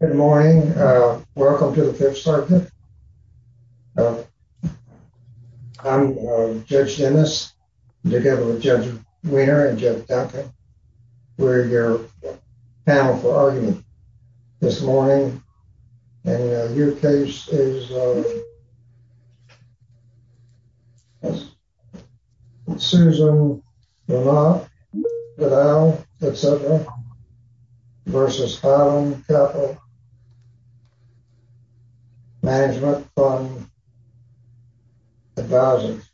Good morning. Welcome to the Fifth Circuit. I'm Judge Dennis together with Judge Weiner and Judge Duncan. We're your panel for argument this morning and your case is Susan versus Adam Capital Management Fund Advisors.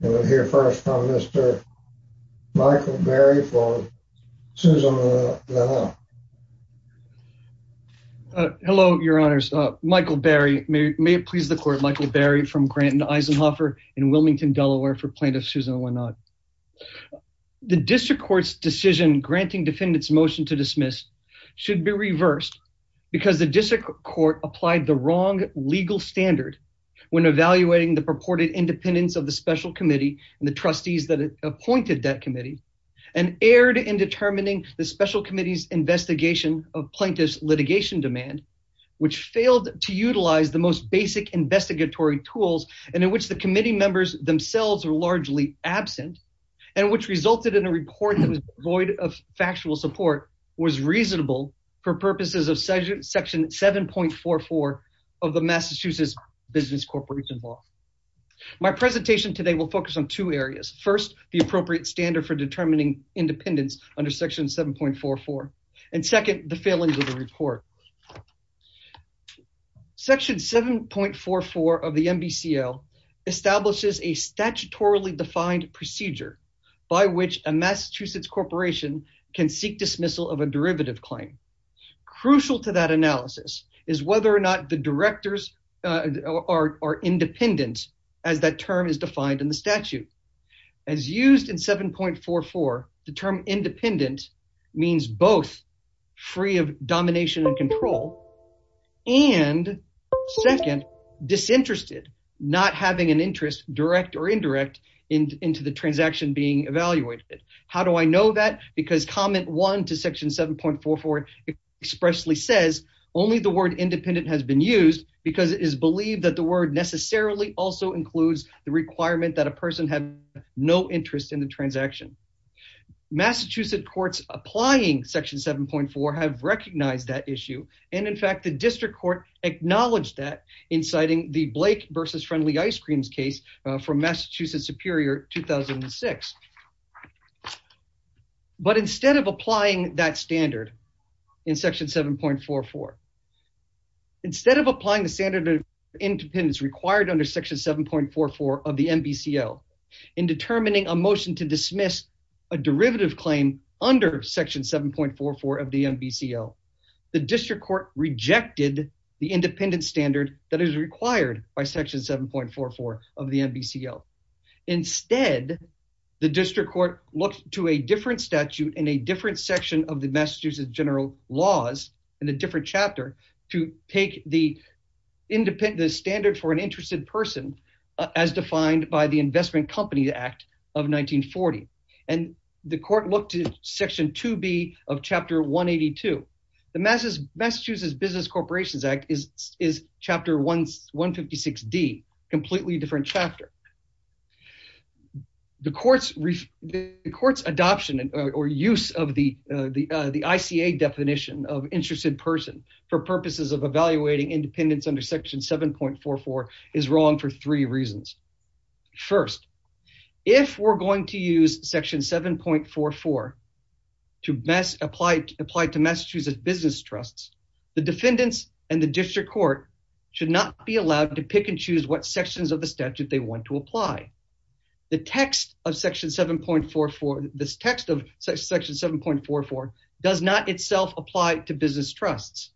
We'll hear first from Mr. Michael Berry for Susan. Uh, hello, your honors. Uh, Michael Berry, may it please the court. Michael Berry from Grant and Eisenhoffer in Wilmington, Delaware for plaintiff. Susan, why not? The district court's decision granting defendants motion to dismiss should be reversed because the district court applied the wrong legal standard when evaluating the purported independence of the special committee and the trustees that appointed that committee and erred in determining the special committee's investigation of plaintiff's litigation demand, which failed to utilize the most basic investigatory tools and in which the committee members themselves are largely absent and which resulted in a report that was void of factual support was reasonable for purposes of section 7.44 of the Massachusetts Business Corporation Law. My presentation today will focus on two areas. First, the appropriate standard for determining independence under section 7.44. And second, the failings of the report. Section 7.44 of the NBCL establishes a statutorily defined procedure by which a Massachusetts corporation can seek dismissal of a derivative claim. Crucial to that analysis is whether or not the directors are independent as that term is defined in the statute. As used in 7.44, the term independent means both free of domination and control and second, disinterested, not having an interest direct or indirect into the transaction being evaluated. How do I know that? Because comment one to section 7.44 expressly says only the word independent has been used because it is believed that the word necessarily also includes the no interest in the transaction. Massachusetts courts applying section 7.4 have recognized that issue. And in fact, the district court acknowledged that in citing the Blake versus Friendly Ice Creams case from Massachusetts Superior 2006. But instead of applying that standard in section 7.44, instead of applying the standard of independence required under section 7.44 of the NBCL in determining a motion to dismiss a derivative claim under section 7.44 of the NBCL, the district court rejected the independent standard that is required by section 7.44 of the NBCL. Instead, the district court looked to a different statute in a different section of the Massachusetts general laws in a different chapter to take the independent standard for an interested person as defined by the Investment Company Act of 1940. And the court looked to section 2B of chapter 182. The Massachusetts Business Corporations Act is chapter 156D, completely different chapter. The court's adoption or use of the ICA definition of interested person for purposes of evaluating independence under section 7.44 is wrong for three reasons. First, if we're going to use section 7.44 to apply to Massachusetts business trusts, the defendants and the district court should not be allowed to pick and choose what sections of the statute they want to apply. The text of section 7.44, this text of section 7.44 does not itself apply to business trusts.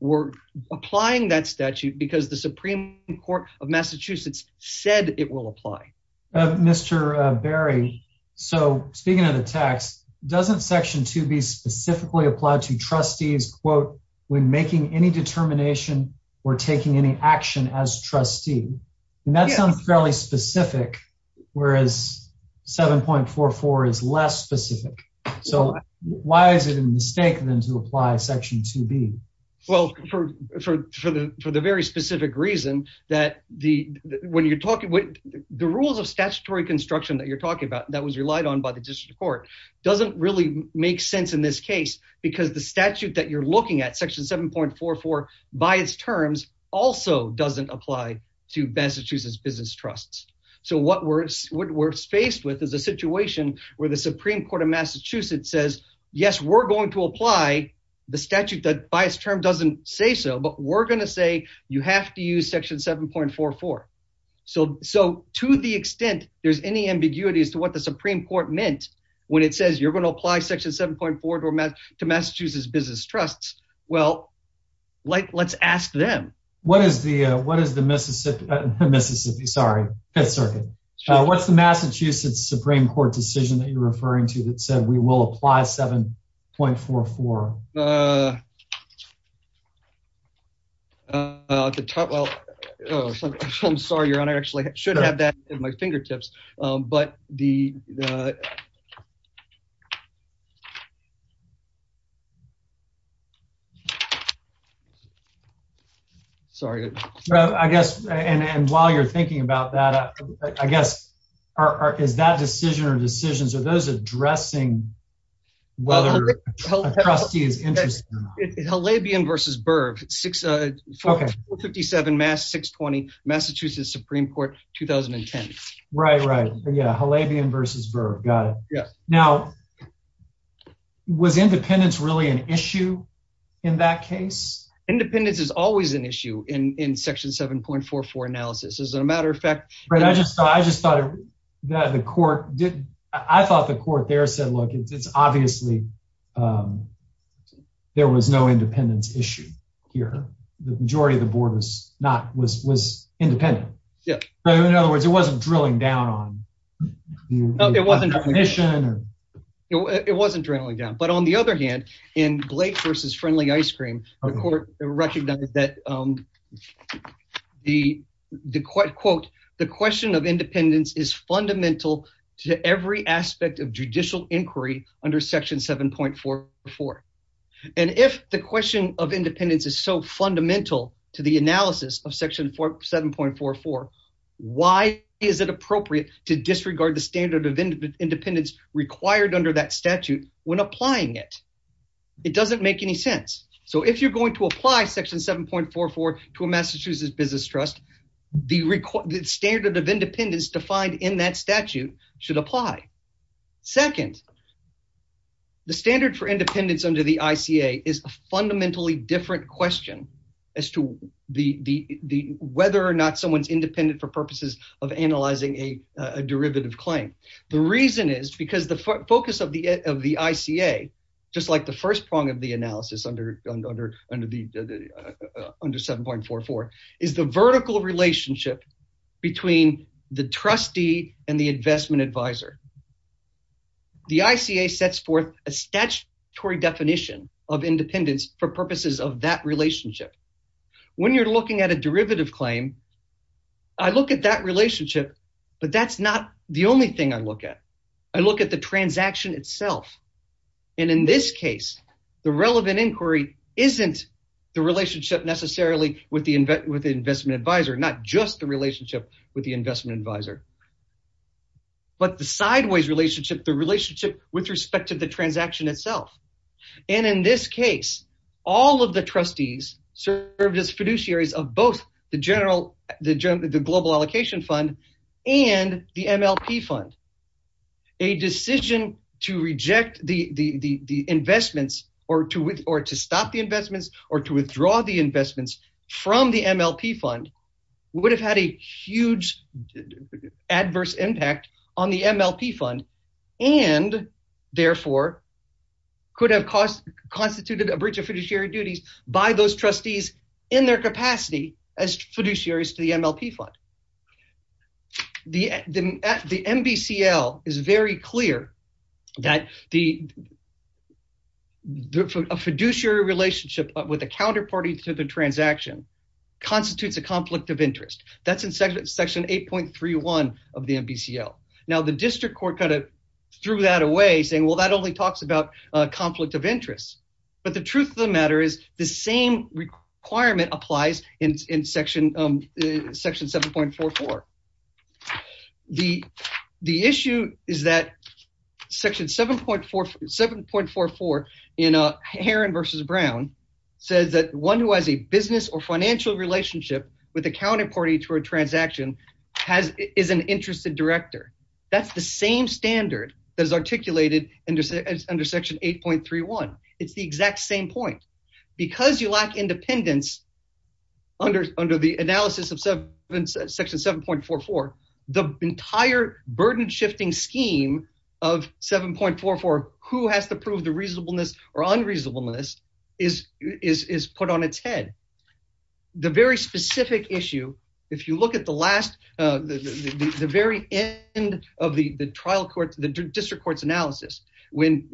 We're applying that statute because the Supreme Court of Massachusetts said it will apply. Mr. Berry, so speaking of the text, doesn't section 2B specifically apply to trustees, quote, when making any determination or taking any action as why is it a mistake then to apply section 2B? Well, for the very specific reason that the rules of statutory construction that you're talking about that was relied on by the district court doesn't really make sense in this case because the statute that you're looking at, section 7.44, by its terms also doesn't apply to Massachusetts business trusts. So what we're faced with is a situation where the Supreme Court of Massachusetts says, yes, we're going to apply the statute that by its term doesn't say so, but we're going to say you have to use section 7.44. So to the extent there's any ambiguity as to what the Supreme Court meant when it says you're going to apply section 7.44 to Massachusetts business trusts, well, let's ask them. What is the Mississippi, sorry, Fifth Circuit, what's the Massachusetts Supreme Court decision that you're referring to that said we will apply 7.44? At the top, well, I'm sorry, Your Honor, I actually should have that at my fingertips, but the, sorry. I guess, and while you're thinking about that, I guess, is that decision or decisions, are those addressing whether a trustee is interested or not? Halabian v. Berv, 457 Mass. 620, Massachusetts Supreme Court, 2010. Right, right, yeah, Halabian v. Berv, got it. Now, was independence really an issue in that case? Independence is always an issue in section 7.44 analysis, as a matter of fact. Right, I just thought the court, I thought the court there said, look, it's obviously there was no independence issue here. The majority of the board was not, was independent. Yeah. So in other words, it wasn't drilling down on the commission. It wasn't drilling down, but on the other hand, in Blake v. Friendly Ice Cream, the court recognized that the, quote, the question of independence is fundamental to every aspect of judicial inquiry under section 7.44. And if the question of independence is so fundamental to the analysis of section 7.44, why is it appropriate to disregard the standard of independence required under that statute when applying it? It doesn't make any sense. So if you're going to apply section 7.44 to a Massachusetts business trust, the standard of independence defined in that statute should apply. Second, the standard for independence under the ICA is a fundamentally different question as to the, whether or not someone's because the focus of the ICA, just like the first prong of the analysis under 7.44, is the vertical relationship between the trustee and the investment advisor. The ICA sets forth a statutory definition of independence for purposes of that relationship. When you're looking at a derivative claim, I look at that relationship, but that's not the only thing I look at. I look at the transaction itself. And in this case, the relevant inquiry isn't the relationship necessarily with the investment advisor, not just the relationship with the investment advisor, but the sideways relationship, the relationship with respect to the transaction itself. And in this case, all of the trustees served as fiduciaries of both the global allocation fund and the MLP fund. A decision to reject the investments or to stop the investments or to withdraw the investments from the MLP fund would have had a huge adverse impact on the MLP fund and therefore could have constituted a breach of fiduciary duties by those trustees in their capacity as fiduciaries to the MLP fund. The MBCL is very clear that a fiduciary relationship with a counterparty to the transaction constitutes a conflict of interest. That's in section 8.31 of the MBCL. Now the district court kind of threw that away saying, well, that only talks about conflict of interest. But the truth of the matter is the same requirement applies in section 7.44. The issue is that section 7.44 in Heron versus Brown says that one who has a business or interested director, that's the same standard that is articulated under section 8.31. It's the exact same point. Because you lack independence under the analysis of section 7.44, the entire burden shifting scheme of 7.44, who has to prove the reasonableness or unreasonableness is put on its head. The very specific issue, if you look at the last, the very end of the trial court, the district court's analysis, when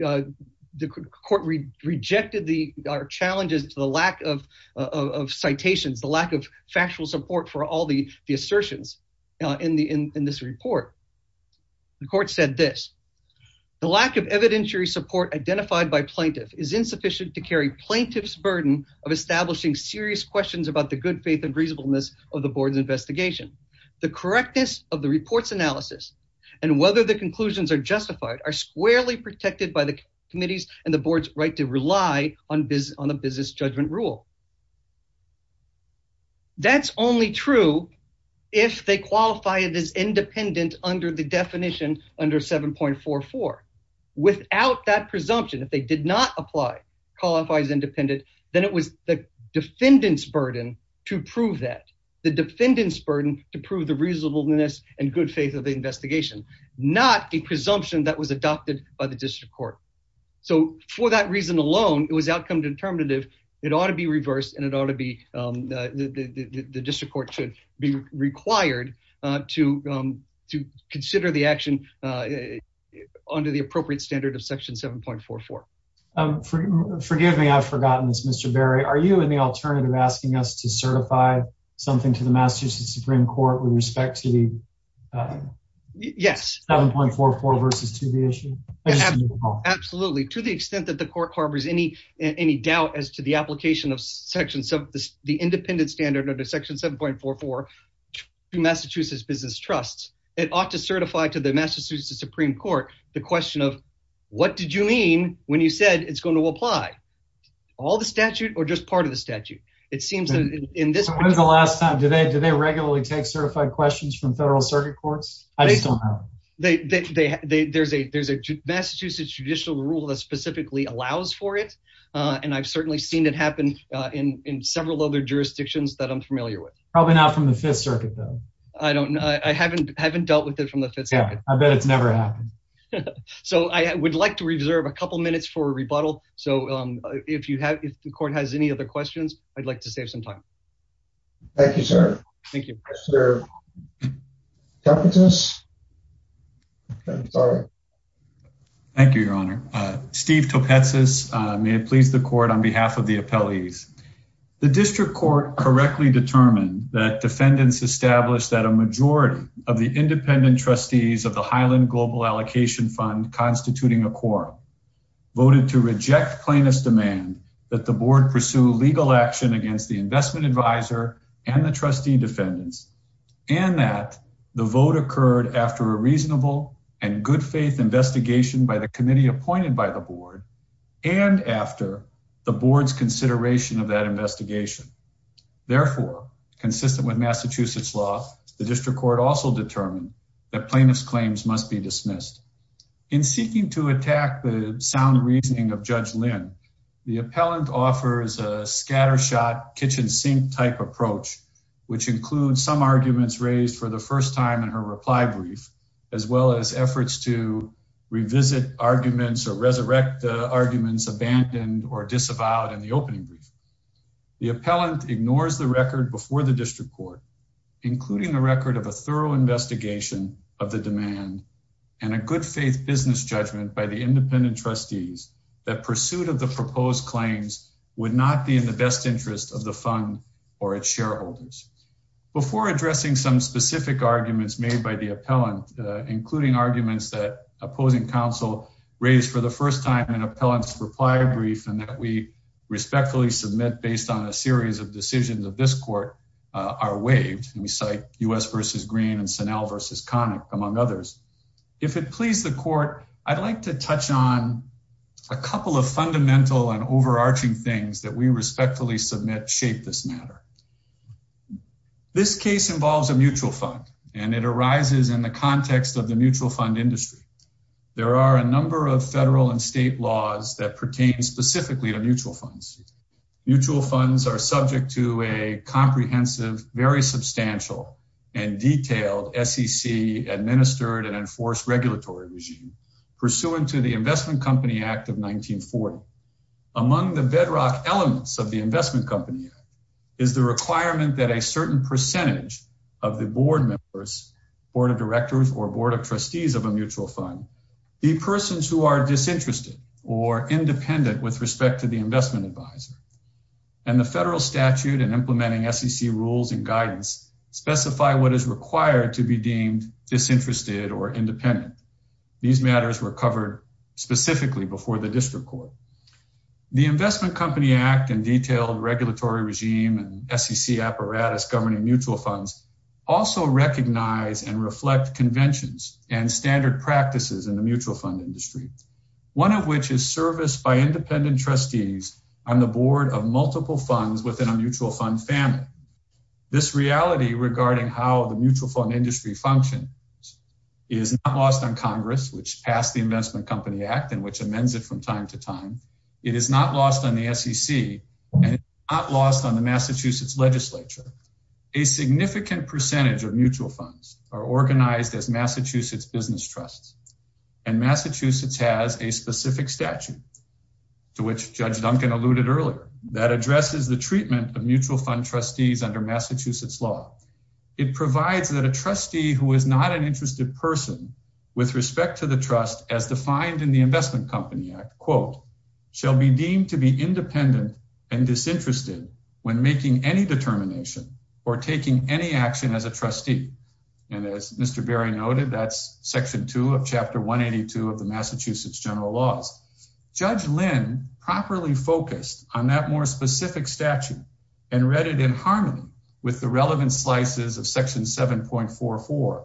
the court rejected the challenges to the lack of citations, the lack of factual support for all the assertions in this report, the court said this, the lack of evidentiary support identified by plaintiff is insufficient to carry plaintiff's establishing serious questions about the good faith and reasonableness of the board's investigation. The correctness of the reports analysis and whether the conclusions are justified are squarely protected by the committees and the board's right to rely on the business judgment rule. That's only true if they qualify it as independent under the definition under 7.44. Without that presumption, if they did not apply, qualify as independent, then it was the defendant's burden to prove that. The defendant's burden to prove the reasonableness and good faith of the investigation, not a presumption that was adopted by the district court. So for that reason alone, it was outcome determinative. It ought to be reversed and the district court should be required to consider the action under the appropriate standard of section 7.44. Forgive me, I've forgotten this, Mr. Berry. Are you in the alternative asking us to certify something to the Massachusetts Supreme Court with respect to the 7.44 versus 2B issue? Absolutely. To the extent that the court harbors any doubt as to the application of the independent standard under section 7.44 to Massachusetts business trusts, it ought to certify to the Massachusetts Supreme Court the question of what did you mean when you said it's going to apply? All the statute or just part of the statute? When was the last time? Do they regularly take certified questions from federal circuit courts? I just don't know. There's a Massachusetts judicial rule that specifically allows for it and I've certainly seen it happen in several other jurisdictions that I'm familiar with. Probably not from the Fifth Circuit though. I don't know. I haven't dealt with it from the Fifth Circuit. I bet it's never happened. So I would like to reserve a couple minutes for a rebuttal. So if the court has any other questions, I'd like to save some time. Thank you, sir. Thank you. Thank you, Your Honor. Steve Topetsis, may it please the court on behalf of the appellees. The district court correctly determined that defendants established that a majority of the independent trustees of the Highland Global Allocation Fund constituting a quorum voted to reject plaintiff's demand that the board pursue legal action against the investment advisor and the trustee defendants and that the vote occurred after a reasonable and good faith investigation by the committee appointed by the board and after the board's consideration of that investigation. Therefore, consistent with Massachusetts law, the district court also determined that plaintiff's claims must be dismissed. In seeking to attack the sound reasoning of Judge Lynn, the appellant offers a for the first time in her reply brief, as well as efforts to revisit arguments or resurrect the arguments abandoned or disavowed in the opening brief. The appellant ignores the record before the district court, including the record of a thorough investigation of the demand and a good faith business judgment by the independent trustees that pursuit of the proposed claims would not be in the best interest of the fund or its shareholders. Before addressing some specific arguments made by the appellant, including arguments that opposing counsel raised for the first time in appellant's reply brief and that we respectfully submit based on a series of decisions of this court are waived and we cite U.S. v. Green and Senel v. Connick, among others. If it and overarching things that we respectfully submit shape this matter. This case involves a mutual fund and it arises in the context of the mutual fund industry. There are a number of federal and state laws that pertain specifically to mutual funds. Mutual funds are subject to a comprehensive, very substantial and detailed SEC administered and enforced regulatory regime pursuant to the Investment Company Act of 1940. Among the bedrock elements of the Investment Company Act is the requirement that a certain percentage of the board members, board of directors or board of trustees of a mutual fund, the persons who are disinterested or independent with respect to the investment advisor and the federal statute and implementing SEC rules and guidance specify what is required to be deemed disinterested or independent. These matters were covered specifically before the district court. The Investment Company Act and detailed regulatory regime and SEC apparatus governing mutual funds also recognize and reflect conventions and standard practices in the mutual fund industry, one of which is service by independent trustees on the board of multiple functions. It is not lost on Congress, which passed the Investment Company Act and which amends it from time to time. It is not lost on the SEC and not lost on the Massachusetts legislature. A significant percentage of mutual funds are organized as Massachusetts business trusts and Massachusetts has a specific statute to which Judge Duncan alluded earlier that addresses the treatment of mutual fund trustees under Massachusetts law. It provides that a trustee who is not an interested person with respect to the trust as defined in the Investment Company Act, quote, shall be deemed to be independent and disinterested when making any determination or taking any action as a trustee. And as Mr. Berry noted, that's section two of chapter 182 of the Massachusetts General Laws. Judge Lynn properly focused on that more specific statute and read it in harmony with the relevant slices of section 7.44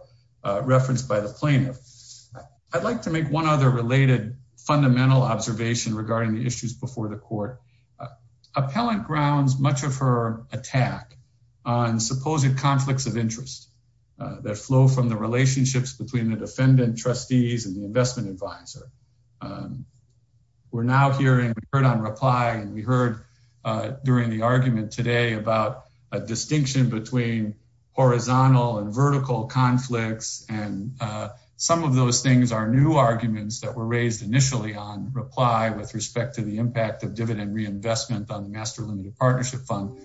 referenced by the plaintiff. I'd like to make one other related fundamental observation regarding the issues before the court. Appellant grounds much of her attack on supposed conflicts of interest that flow from the We're now hearing heard on reply and we heard during the argument today about a distinction between horizontal and vertical conflicts. And some of those things are new arguments that were raised initially on reply with respect to the impact of dividend reinvestment on the Master Limited Partnership Fund.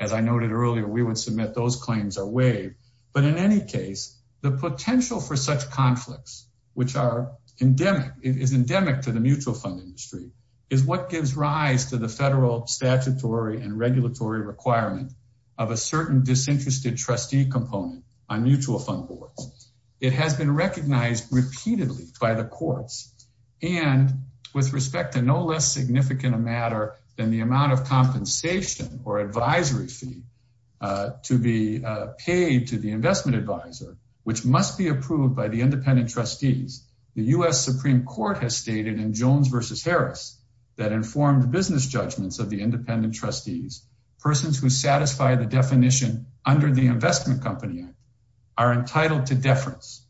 As I noted earlier, we would submit those claims away. But in any case, the potential for such conflicts, which are endemic is endemic to the mutual fund industry, is what gives rise to the federal statutory and regulatory requirement of a certain disinterested trustee component on mutual fund boards. It has been recognized repeatedly by the courts. And with respect to no less significant a matter than the amount of compensation or advisory fee to be paid to the investment advisor, which must be approved by the independent trustees, the US Supreme Court has stated in Jones versus Harris, that informed business judgments of the independent trustees, persons who satisfy the definition under the Investment Company Act, are entitled to deference.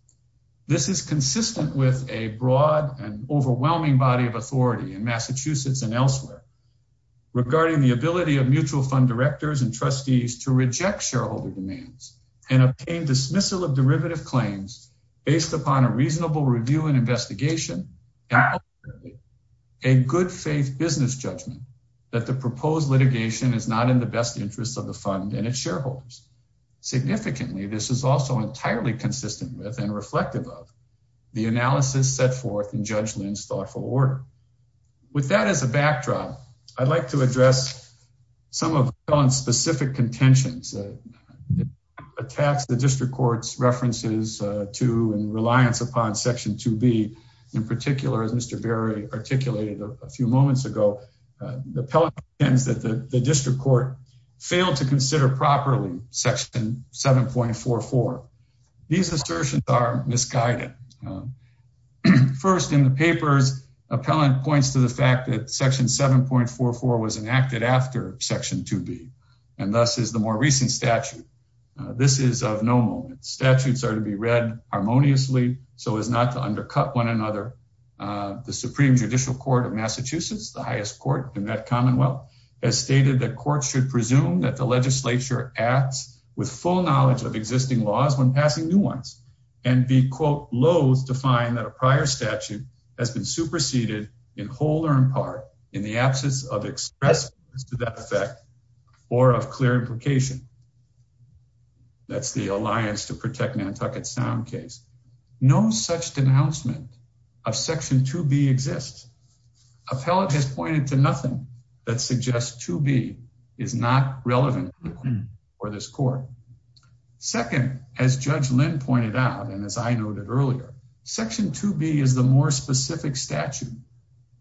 This is consistent with a broad and overwhelming body of authority in Massachusetts and elsewhere. Regarding the ability of mutual fund directors and trustees to reject shareholder demands and obtain dismissal of derivative claims based upon a reasonable review and investigation, a good faith business judgment that the proposed litigation is not in the best interest of the fund and its shareholders. Significantly, this is also entirely consistent with and reflective of the analysis set forth in Judge Lynn's thoughtful work. With that as a backdrop, I'd like to address some of Helen's specific contentions attacks the district court's references to and reliance upon Section 2B. In particular, as Mr. Berry articulated a few moments ago, the pelicans that the district court failed to consider properly Section 7.44. These assertions are misguided. First, in the papers, appellant points to the fact that Section 7.44 was enacted after Section 2B, and thus is the more recent statute. This is of no moment. Statutes are to be read harmoniously, so as not to undercut one another. The Supreme Judicial Court of Massachusetts, the highest court in that Commonwealth, has stated that courts should presume that the legislature acts with full knowledge of existing laws when passing new ones, and be, quote, low-level to find that a prior statute has been superseded in whole or in part in the absence of express to that effect or of clear implication. That's the Alliance to Protect Nantucket Sound case. No such denouncement of Section 2B exists. Appellant has pointed to nothing that suggests 2B is not relevant for this court. Second, as Judge Lynn pointed out, and as I noted earlier, Section 2B is the more specific statute.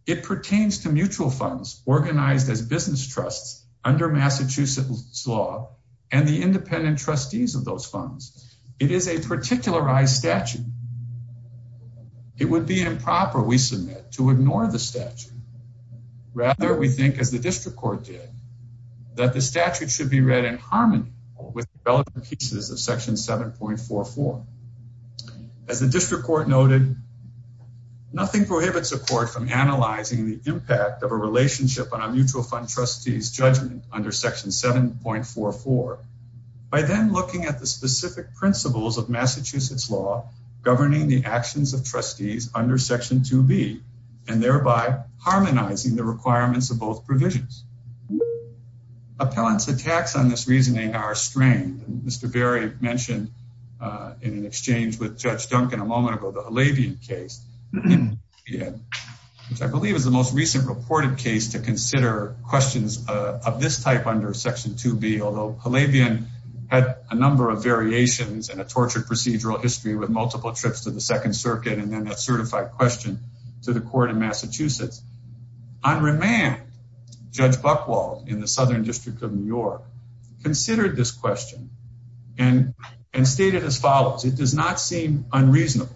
It pertains to mutual funds organized as business trusts under Massachusetts law and the independent trustees of those funds. It is a particularized statute. It would be improper, we submit, to ignore the statute. Rather, we think, as the district court did, that the statute should be read in harmony with relevant pieces of Section 7.44. As the district court noted, nothing prohibits a court from analyzing the impact of a relationship on a mutual fund trustee's judgment under Section 7.44 by then looking at the specific principles of Massachusetts law governing the actions of requirements of both provisions. Appellants' attacks on this reasoning are strained. As Mr. Berry mentioned in an exchange with Judge Duncan a moment ago, the Halabian case, which I believe is the most recent reported case to consider questions of this type under Section 2B, although Halabian had a number of variations and a tortured procedural history with multiple trips to the Second Circuit and then a certified question to the court in Massachusetts, on remand, Judge Buchwald in the Southern District of New York considered this question and stated as follows, it does not seem unreasonable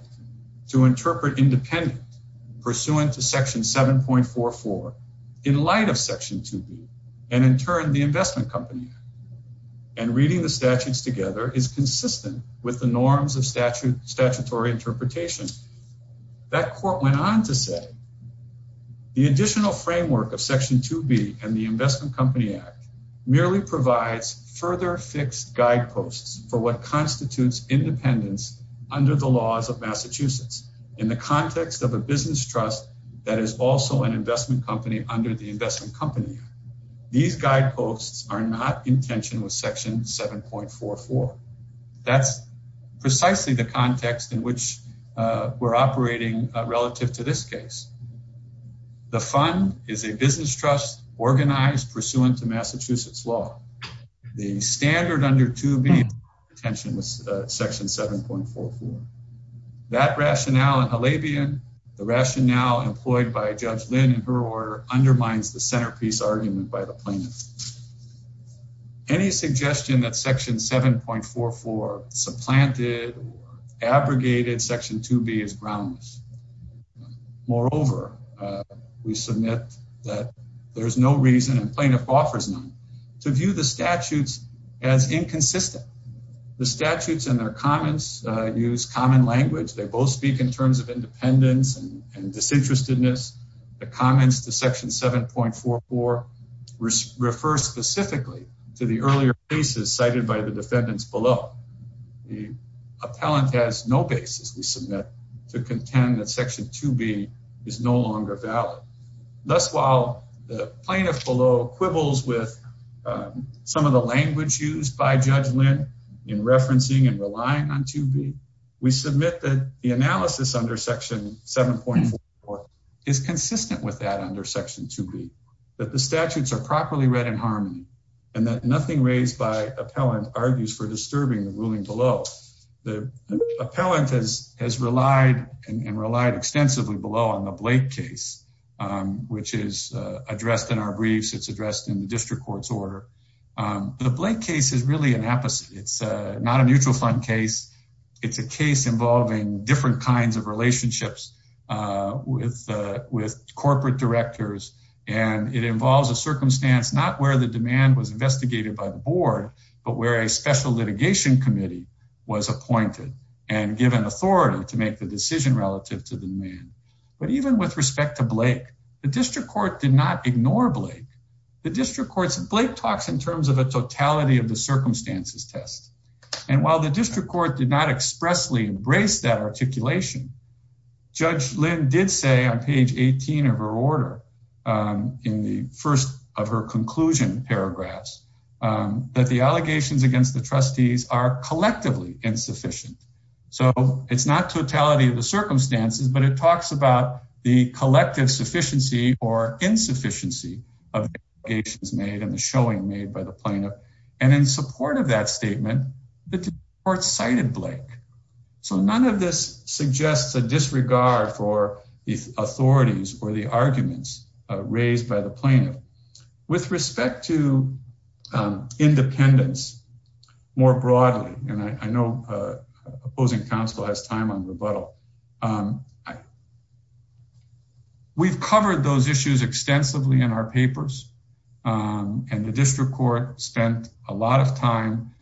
to interpret independent pursuant to Section 7.44 in light of Section 2B and, in turn, the Investment Company Act, and reading the statutes together is consistent with the norms of statutory interpretation. That court went on to say, the additional framework of Section 2B and the Investment Company Act merely provides further fixed guideposts for what constitutes independence under the laws of Massachusetts in the context of a business trust that is also an investment company under the Investment Company Act. These guideposts are not in tension with Section 7.44. That's precisely the context in which we're operating relative to this case. The fund is a business trust organized pursuant to Massachusetts law. The standard under 2B is not in tension with Section 7.44. That rationale in Halabian, the rationale employed by Judge Lynn in her order, undermines the centerpiece argument by the plaintiff. Any suggestion that Section 7.44 supplanted or abrogated Section 2B is groundless. Moreover, we submit that there's no reason, and plaintiff offers none, to view the statutes as inconsistent. The statutes and their comments use common language. They both speak in refer specifically to the earlier cases cited by the defendants below. The appellant has no basis, we submit, to contend that Section 2B is no longer valid. Thus, while the plaintiff below quibbles with some of the language used by Judge Lynn in referencing and relying on 2B, we submit that analysis under Section 7.44 is consistent with that under Section 2B, that the statutes are properly read in harmony, and that nothing raised by appellant argues for disturbing the ruling below. The appellant has relied and relied extensively below on the Blake case, which is addressed in our briefs, it's addressed in the district court's order. The Blake case is really it's not a mutual fund case. It's a case involving different kinds of relationships with corporate directors, and it involves a circumstance not where the demand was investigated by the board, but where a special litigation committee was appointed and given authority to make the decision relative to the demand. But even with respect to Blake, the district court did not And while the district court did not expressly embrace that articulation, Judge Lynn did say on page 18 of her order, in the first of her conclusion paragraphs, that the allegations against the trustees are collectively insufficient. So it's not totality of the circumstances, but it talks about the collective sufficiency or insufficiency of the allegations made and the showing made by the plaintiff. And in support of that statement, the district court cited Blake. So none of this suggests a disregard for the authorities or the arguments raised by the plaintiff. With respect to independence, more broadly, and I know opposing counsel has time on rebuttal. We've covered those issues extensively in our papers. And the district court spent a lot of time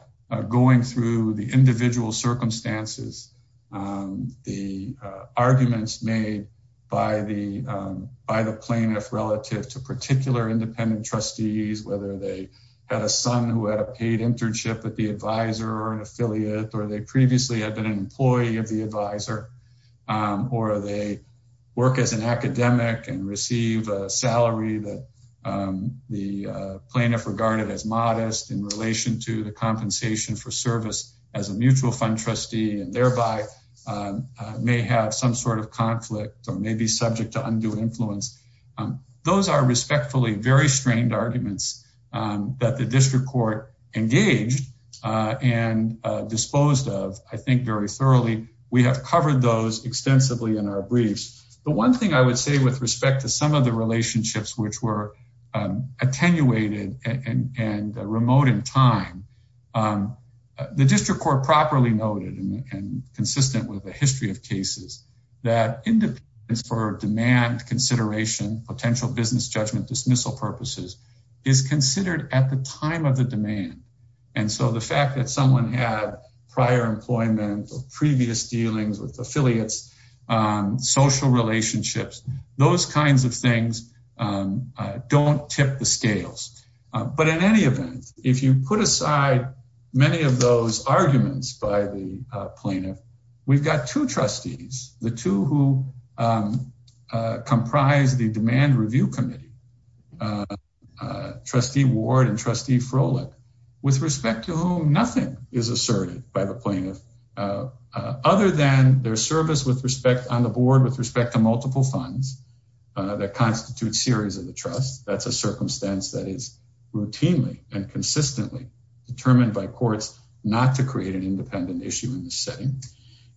going through the individual circumstances, the arguments made by the plaintiff relative to particular independent trustees, whether they had a son who had a paid internship at the advisor or an affiliate, or they previously had been an employee of the advisor, or they work as an academic and receive a salary that the plaintiff regarded as modest in relation to the compensation for service as a mutual fund trustee and thereby may have some sort of conflict or may be subject to undue influence. Those are respectfully very strained arguments that the district court engaged and disposed of, I think, very thoroughly. We have covered those extensively in our briefs. The one thing I would say with respect to some of the relationships which were attenuated and remote in time, the district court properly noted and consistent with a history of cases that independence for demand consideration, potential business judgment dismissal purposes is considered at the time of the demand. And so the fact that someone had prior employment or previous dealings with affiliates, social relationships, those kinds of things don't tip the scales. But in any event, if you put aside many of those arguments by the plaintiff, we've got two trustees, the two who comprise the Demand Review Committee, Trustee Ward and Trustee Froelich, with respect to whom nothing is asserted by the plaintiff other than their service on the board with respect to multiple funds that constitute series of the trust. That's a circumstance that is routinely and consistently determined by courts not to create an independent issue in this setting.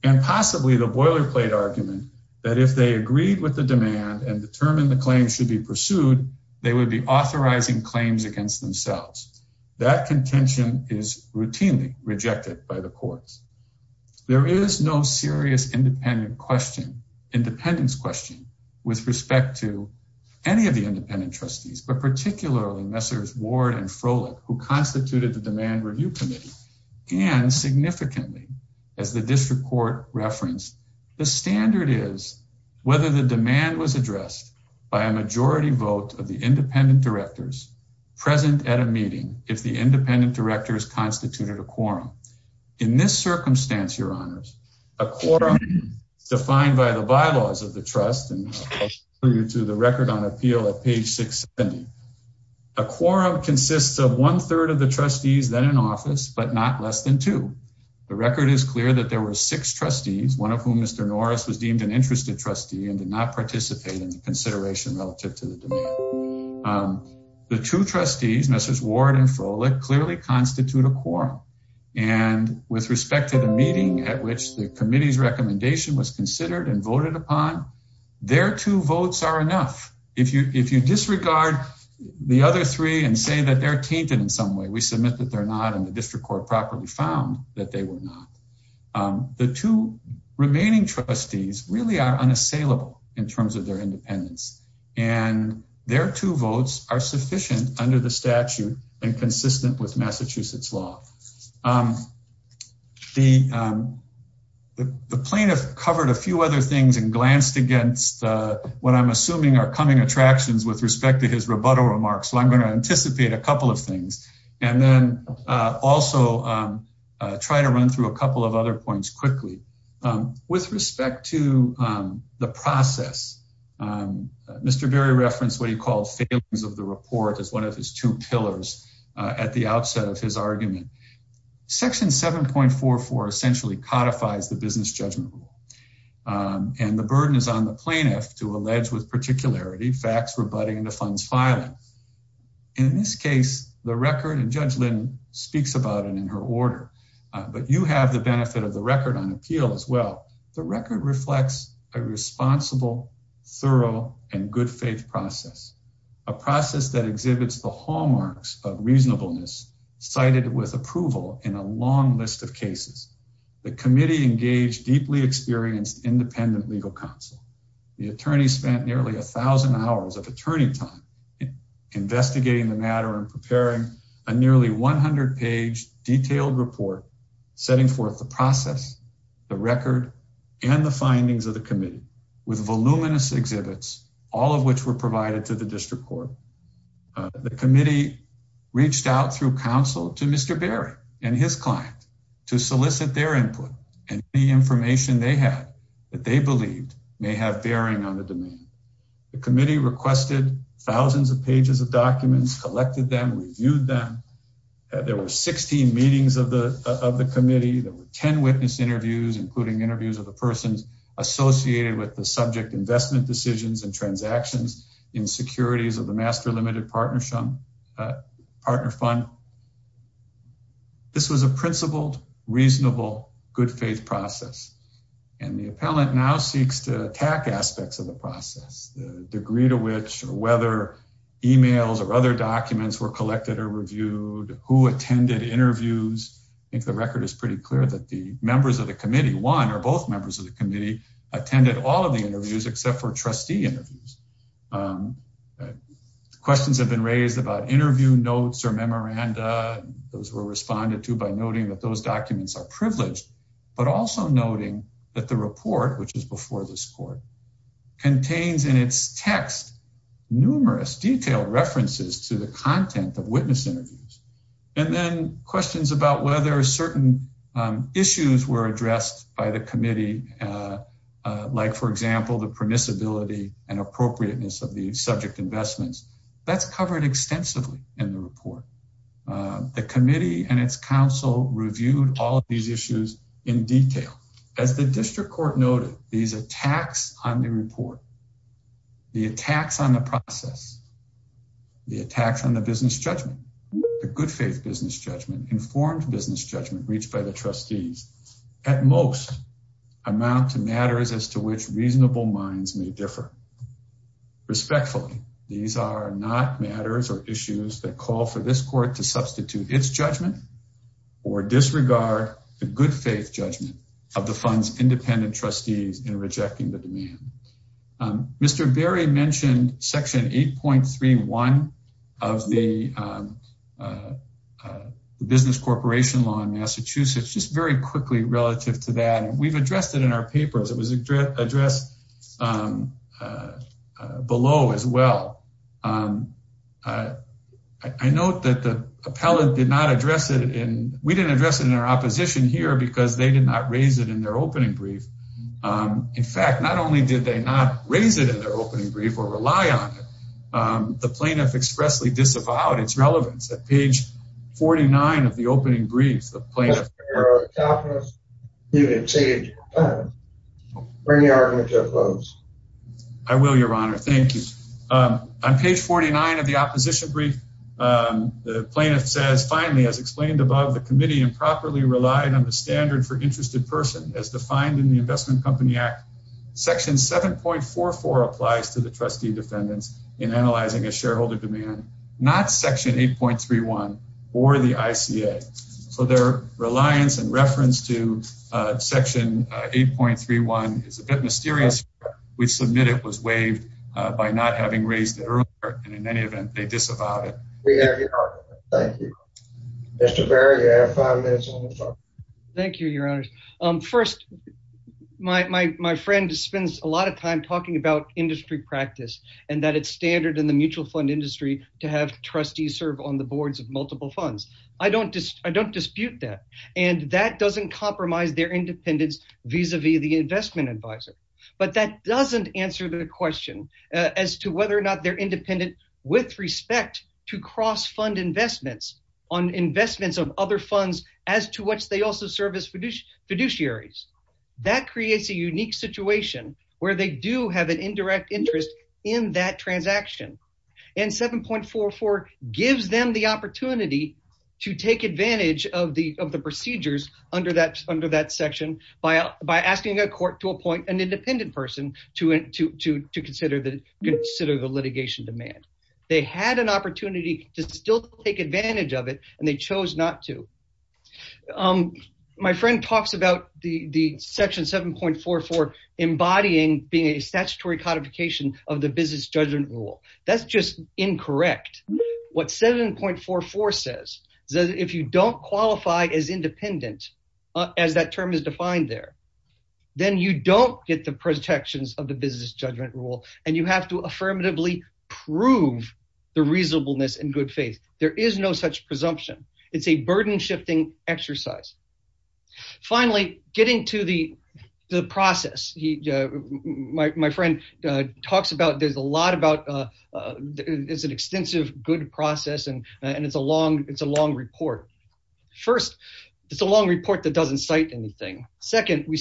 And possibly the boilerplate argument that if they agreed with the demand and determined the claim should be pursued, they would be authorizing claims against themselves. That contention is routinely rejected by the courts. There is no serious independent question, independence question with respect to any of the independent trustees, but particularly Messrs. Ward and Froelich, who constituted the Demand Review Committee. And significantly, as the district court referenced, the standard is whether the demand was addressed by a majority vote of the independent directors present at a meeting if the independent directors constituted a quorum. In this circumstance, your honors, a quorum defined by the bylaws of the trust and to the record on appeal at page 670. A quorum consists of one third of the trustees then in office, but not less than two. The record is clear that there were six trustees, one of whom Mr. Norris was deemed an interested trustee and did not participate in the consideration relative to the demand. The two trustees, Messrs. Ward and Froelich, clearly constitute a quorum. And with respect to the meeting at which the committee's recommendation was considered and voted upon, their two votes are enough. If you disregard the other three and say that they're tainted in some way, we submit that they're not, and the district court properly found that they were not. The two remaining trustees really are unassailable in terms of their independence, and their two votes are sufficient under the statute and consistent with Massachusetts law. The plaintiff covered a few other things and glanced against what I'm assuming are coming attractions with respect to his rebuttal remarks, so I'm going to anticipate a couple of things and then also try to run through a couple of other points quickly. With respect to the process, Mr. Berry referenced what he called failings of the report as one of his two pillars at the outset of his argument. Section 7.44 essentially codifies the business judgment rule, and the burden is on the plaintiff to allege with particularity facts rebutting the fund's filing. In this case, the record, and Judge Lynn speaks about it in her order, but you have the benefit of the record on appeal as well. The record reflects a responsible, thorough, and good faith process, a process that exhibits the hallmarks of reasonableness cited with approval in a long list of cases. The committee engaged deeply experienced independent legal counsel. The attorney spent nearly a thousand hours of attorney time investigating the matter and preparing a nearly 100 page detailed report, setting forth the process, the record, and the findings of the committee with voluminous exhibits, all of which were provided to the district court. The committee reached out through counsel to Mr. Berry and his client to solicit their input and any information they had that they believed may have bearing on the domain. The committee requested thousands of pages of documents, collected them, reviewed them. There were 16 meetings of the committee. There were 10 witness interviews, including interviews of the persons associated with the subject investment decisions and transactions in securities of the Master Limited Partner Fund. This was a principled, reasonable, good faith process, and the appellant now seeks to attack aspects of the process, the degree to which or whether emails or other documents were collected or reviewed, who attended interviews. I think the record is pretty clear that the members of the committee, one or both members of the committee, attended all of the interviews except for trustee interviews. Questions have been raised about interview notes or memoranda. Those were responded to by noting that those documents are privileged, but also noting that the report, which is before this court, contains in its text numerous detailed references to the content of witness interviews, and then questions about whether certain issues were addressed by the committee, like, for example, the permissibility and appropriateness of the subject investments. That's covered extensively in the report. The committee and its counsel reviewed all of these issues in detail. As the district court noted, these attacks on the report, the attacks on the process, the attacks on the business judgment, the good faith business judgment, informed business judgment reached by the trustees, at most, amount to matters as to which reasonable minds may differ. Respectfully, these are not matters or issues that call for this court to substitute its judgment or disregard the good faith judgment of the fund's independent trustees in rejecting the demand. Mr. Berry mentioned section 8.31 of the business corporation law in Massachusetts, just very quickly relative to that, and we've addressed it in our papers. It was addressed below as well. I note that the appellate did not address it in, we didn't address it in our opposition here because they did not raise it in their opening brief. In fact, not only did they not raise it in their opening brief or rely on it, the plaintiff expressly disavowed its relevance at page 49 of the opening brief. I will, your honor. Thank you. On page 49 of the opposition brief, the plaintiff says, finally, as explained above, the committee improperly relied on the standard for interested person as defined in the Investment Company Act. Section 7.44 applies to trustee defendants in analyzing a shareholder demand, not section 8.31 or the ICA. So their reliance and reference to section 8.31 is a bit mysterious. We submit it was waived by not having raised it earlier, and in any event, they disavowed it. We have your argument. Thank you. Mr. Berry, you have five minutes on the floor. Thank you, your honors. First, my friend spends a lot of time talking about industry practice and that it's standard in the mutual fund industry to have trustees serve on the boards of multiple funds. I don't dispute that, and that doesn't compromise their independence vis-a-vis the investment advisor, but that doesn't answer the question as to whether or not they're independent with respect to cross-fund investments on investments of other funds as to which they also serve as fiduciaries. That creates a unique situation where they do have an indirect interest in that transaction, and 7.44 gives them the opportunity to take advantage of the procedures under that section by asking a court to appoint an independent person to consider the litigation demand. They had an opportunity to still take advantage of it, and they chose not to. My friend talks about the section 7.44 embodying being a statutory codification of the business judgment rule. That's just incorrect. What 7.44 says is that if you don't qualify as independent, as that term is defined there, then you don't get the protections of the business judgment rule, and you have to affirmatively prove the reasonableness and good faith. There is no such presumption. It's a burden-shifting exercise. Finally, getting to the process, my friend talks about there's a lot about it's an extensive good process, and it's a long report. First, it's a long report that doesn't cite anything. Second, they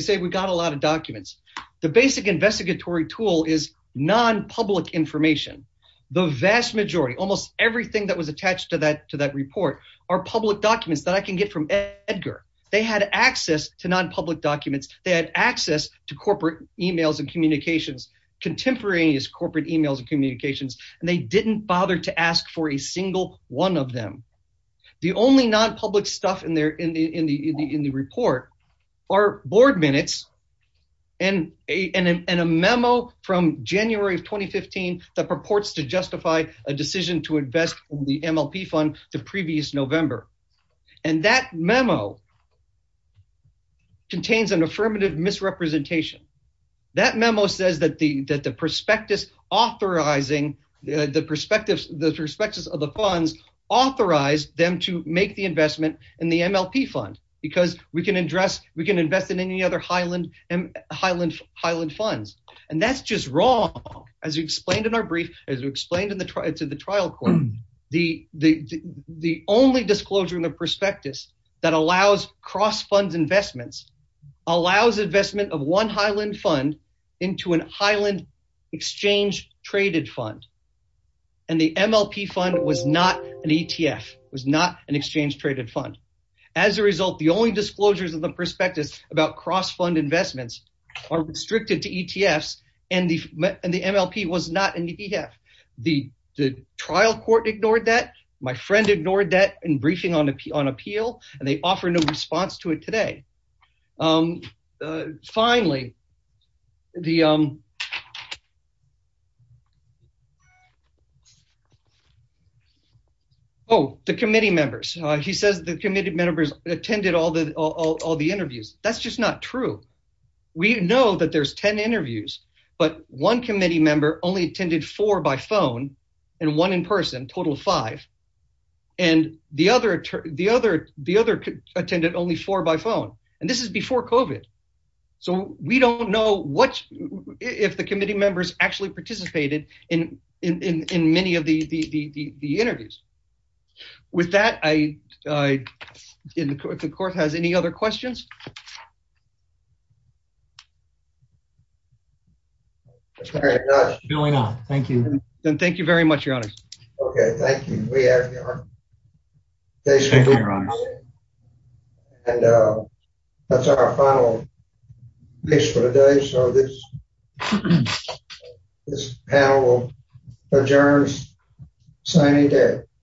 say we got a lot of documents. The basic investigatory tool is nonpublic information. The vast majority, almost everything that was attached to that report, are public documents that I can get from Edgar. They had access to nonpublic documents. They had access to corporate emails and communications, contemporaneous corporate emails and communications, and they didn't bother to ask for a single one of them. The only nonpublic stuff in the report are board minutes and a memo from January of 2015 that purports to justify a decision to invest in the MLP fund the previous November. That memo contains an affirmative misrepresentation. That memo says that the prospectus of the funds authorized them to make the investment in the MLP fund because we can invest in any other Highland funds. That's just wrong. As we explained in our brief, as we explained to the trial court, the only disclosure in the prospectus that allows cross-fund investments allows investment of one Highland fund into an Highland exchange-traded fund. The MLP fund was not an ETF. It was not an exchange-traded fund. As a result, the only disclosures in the prospectus about cross-fund investments are restricted to ETFs, and the MLP was not an ETF. The trial court ignored that. My friend ignored that in briefing on appeal, and they offer no response to it today. Finally, oh, the committee members. He says the committee members attended all the interviews. That's just not true. We know that there's 10 interviews, but one committee member only attended four by phone and one in person, a total of five, and the other attended only four by phone. This is before COVID, so we don't know if the committee members actually participated in many of the interviews. With that, if the court has any other questions. Thank you very much, your honors. Okay, thank you. That's our final case for today, so this panel adjourns. Signing day.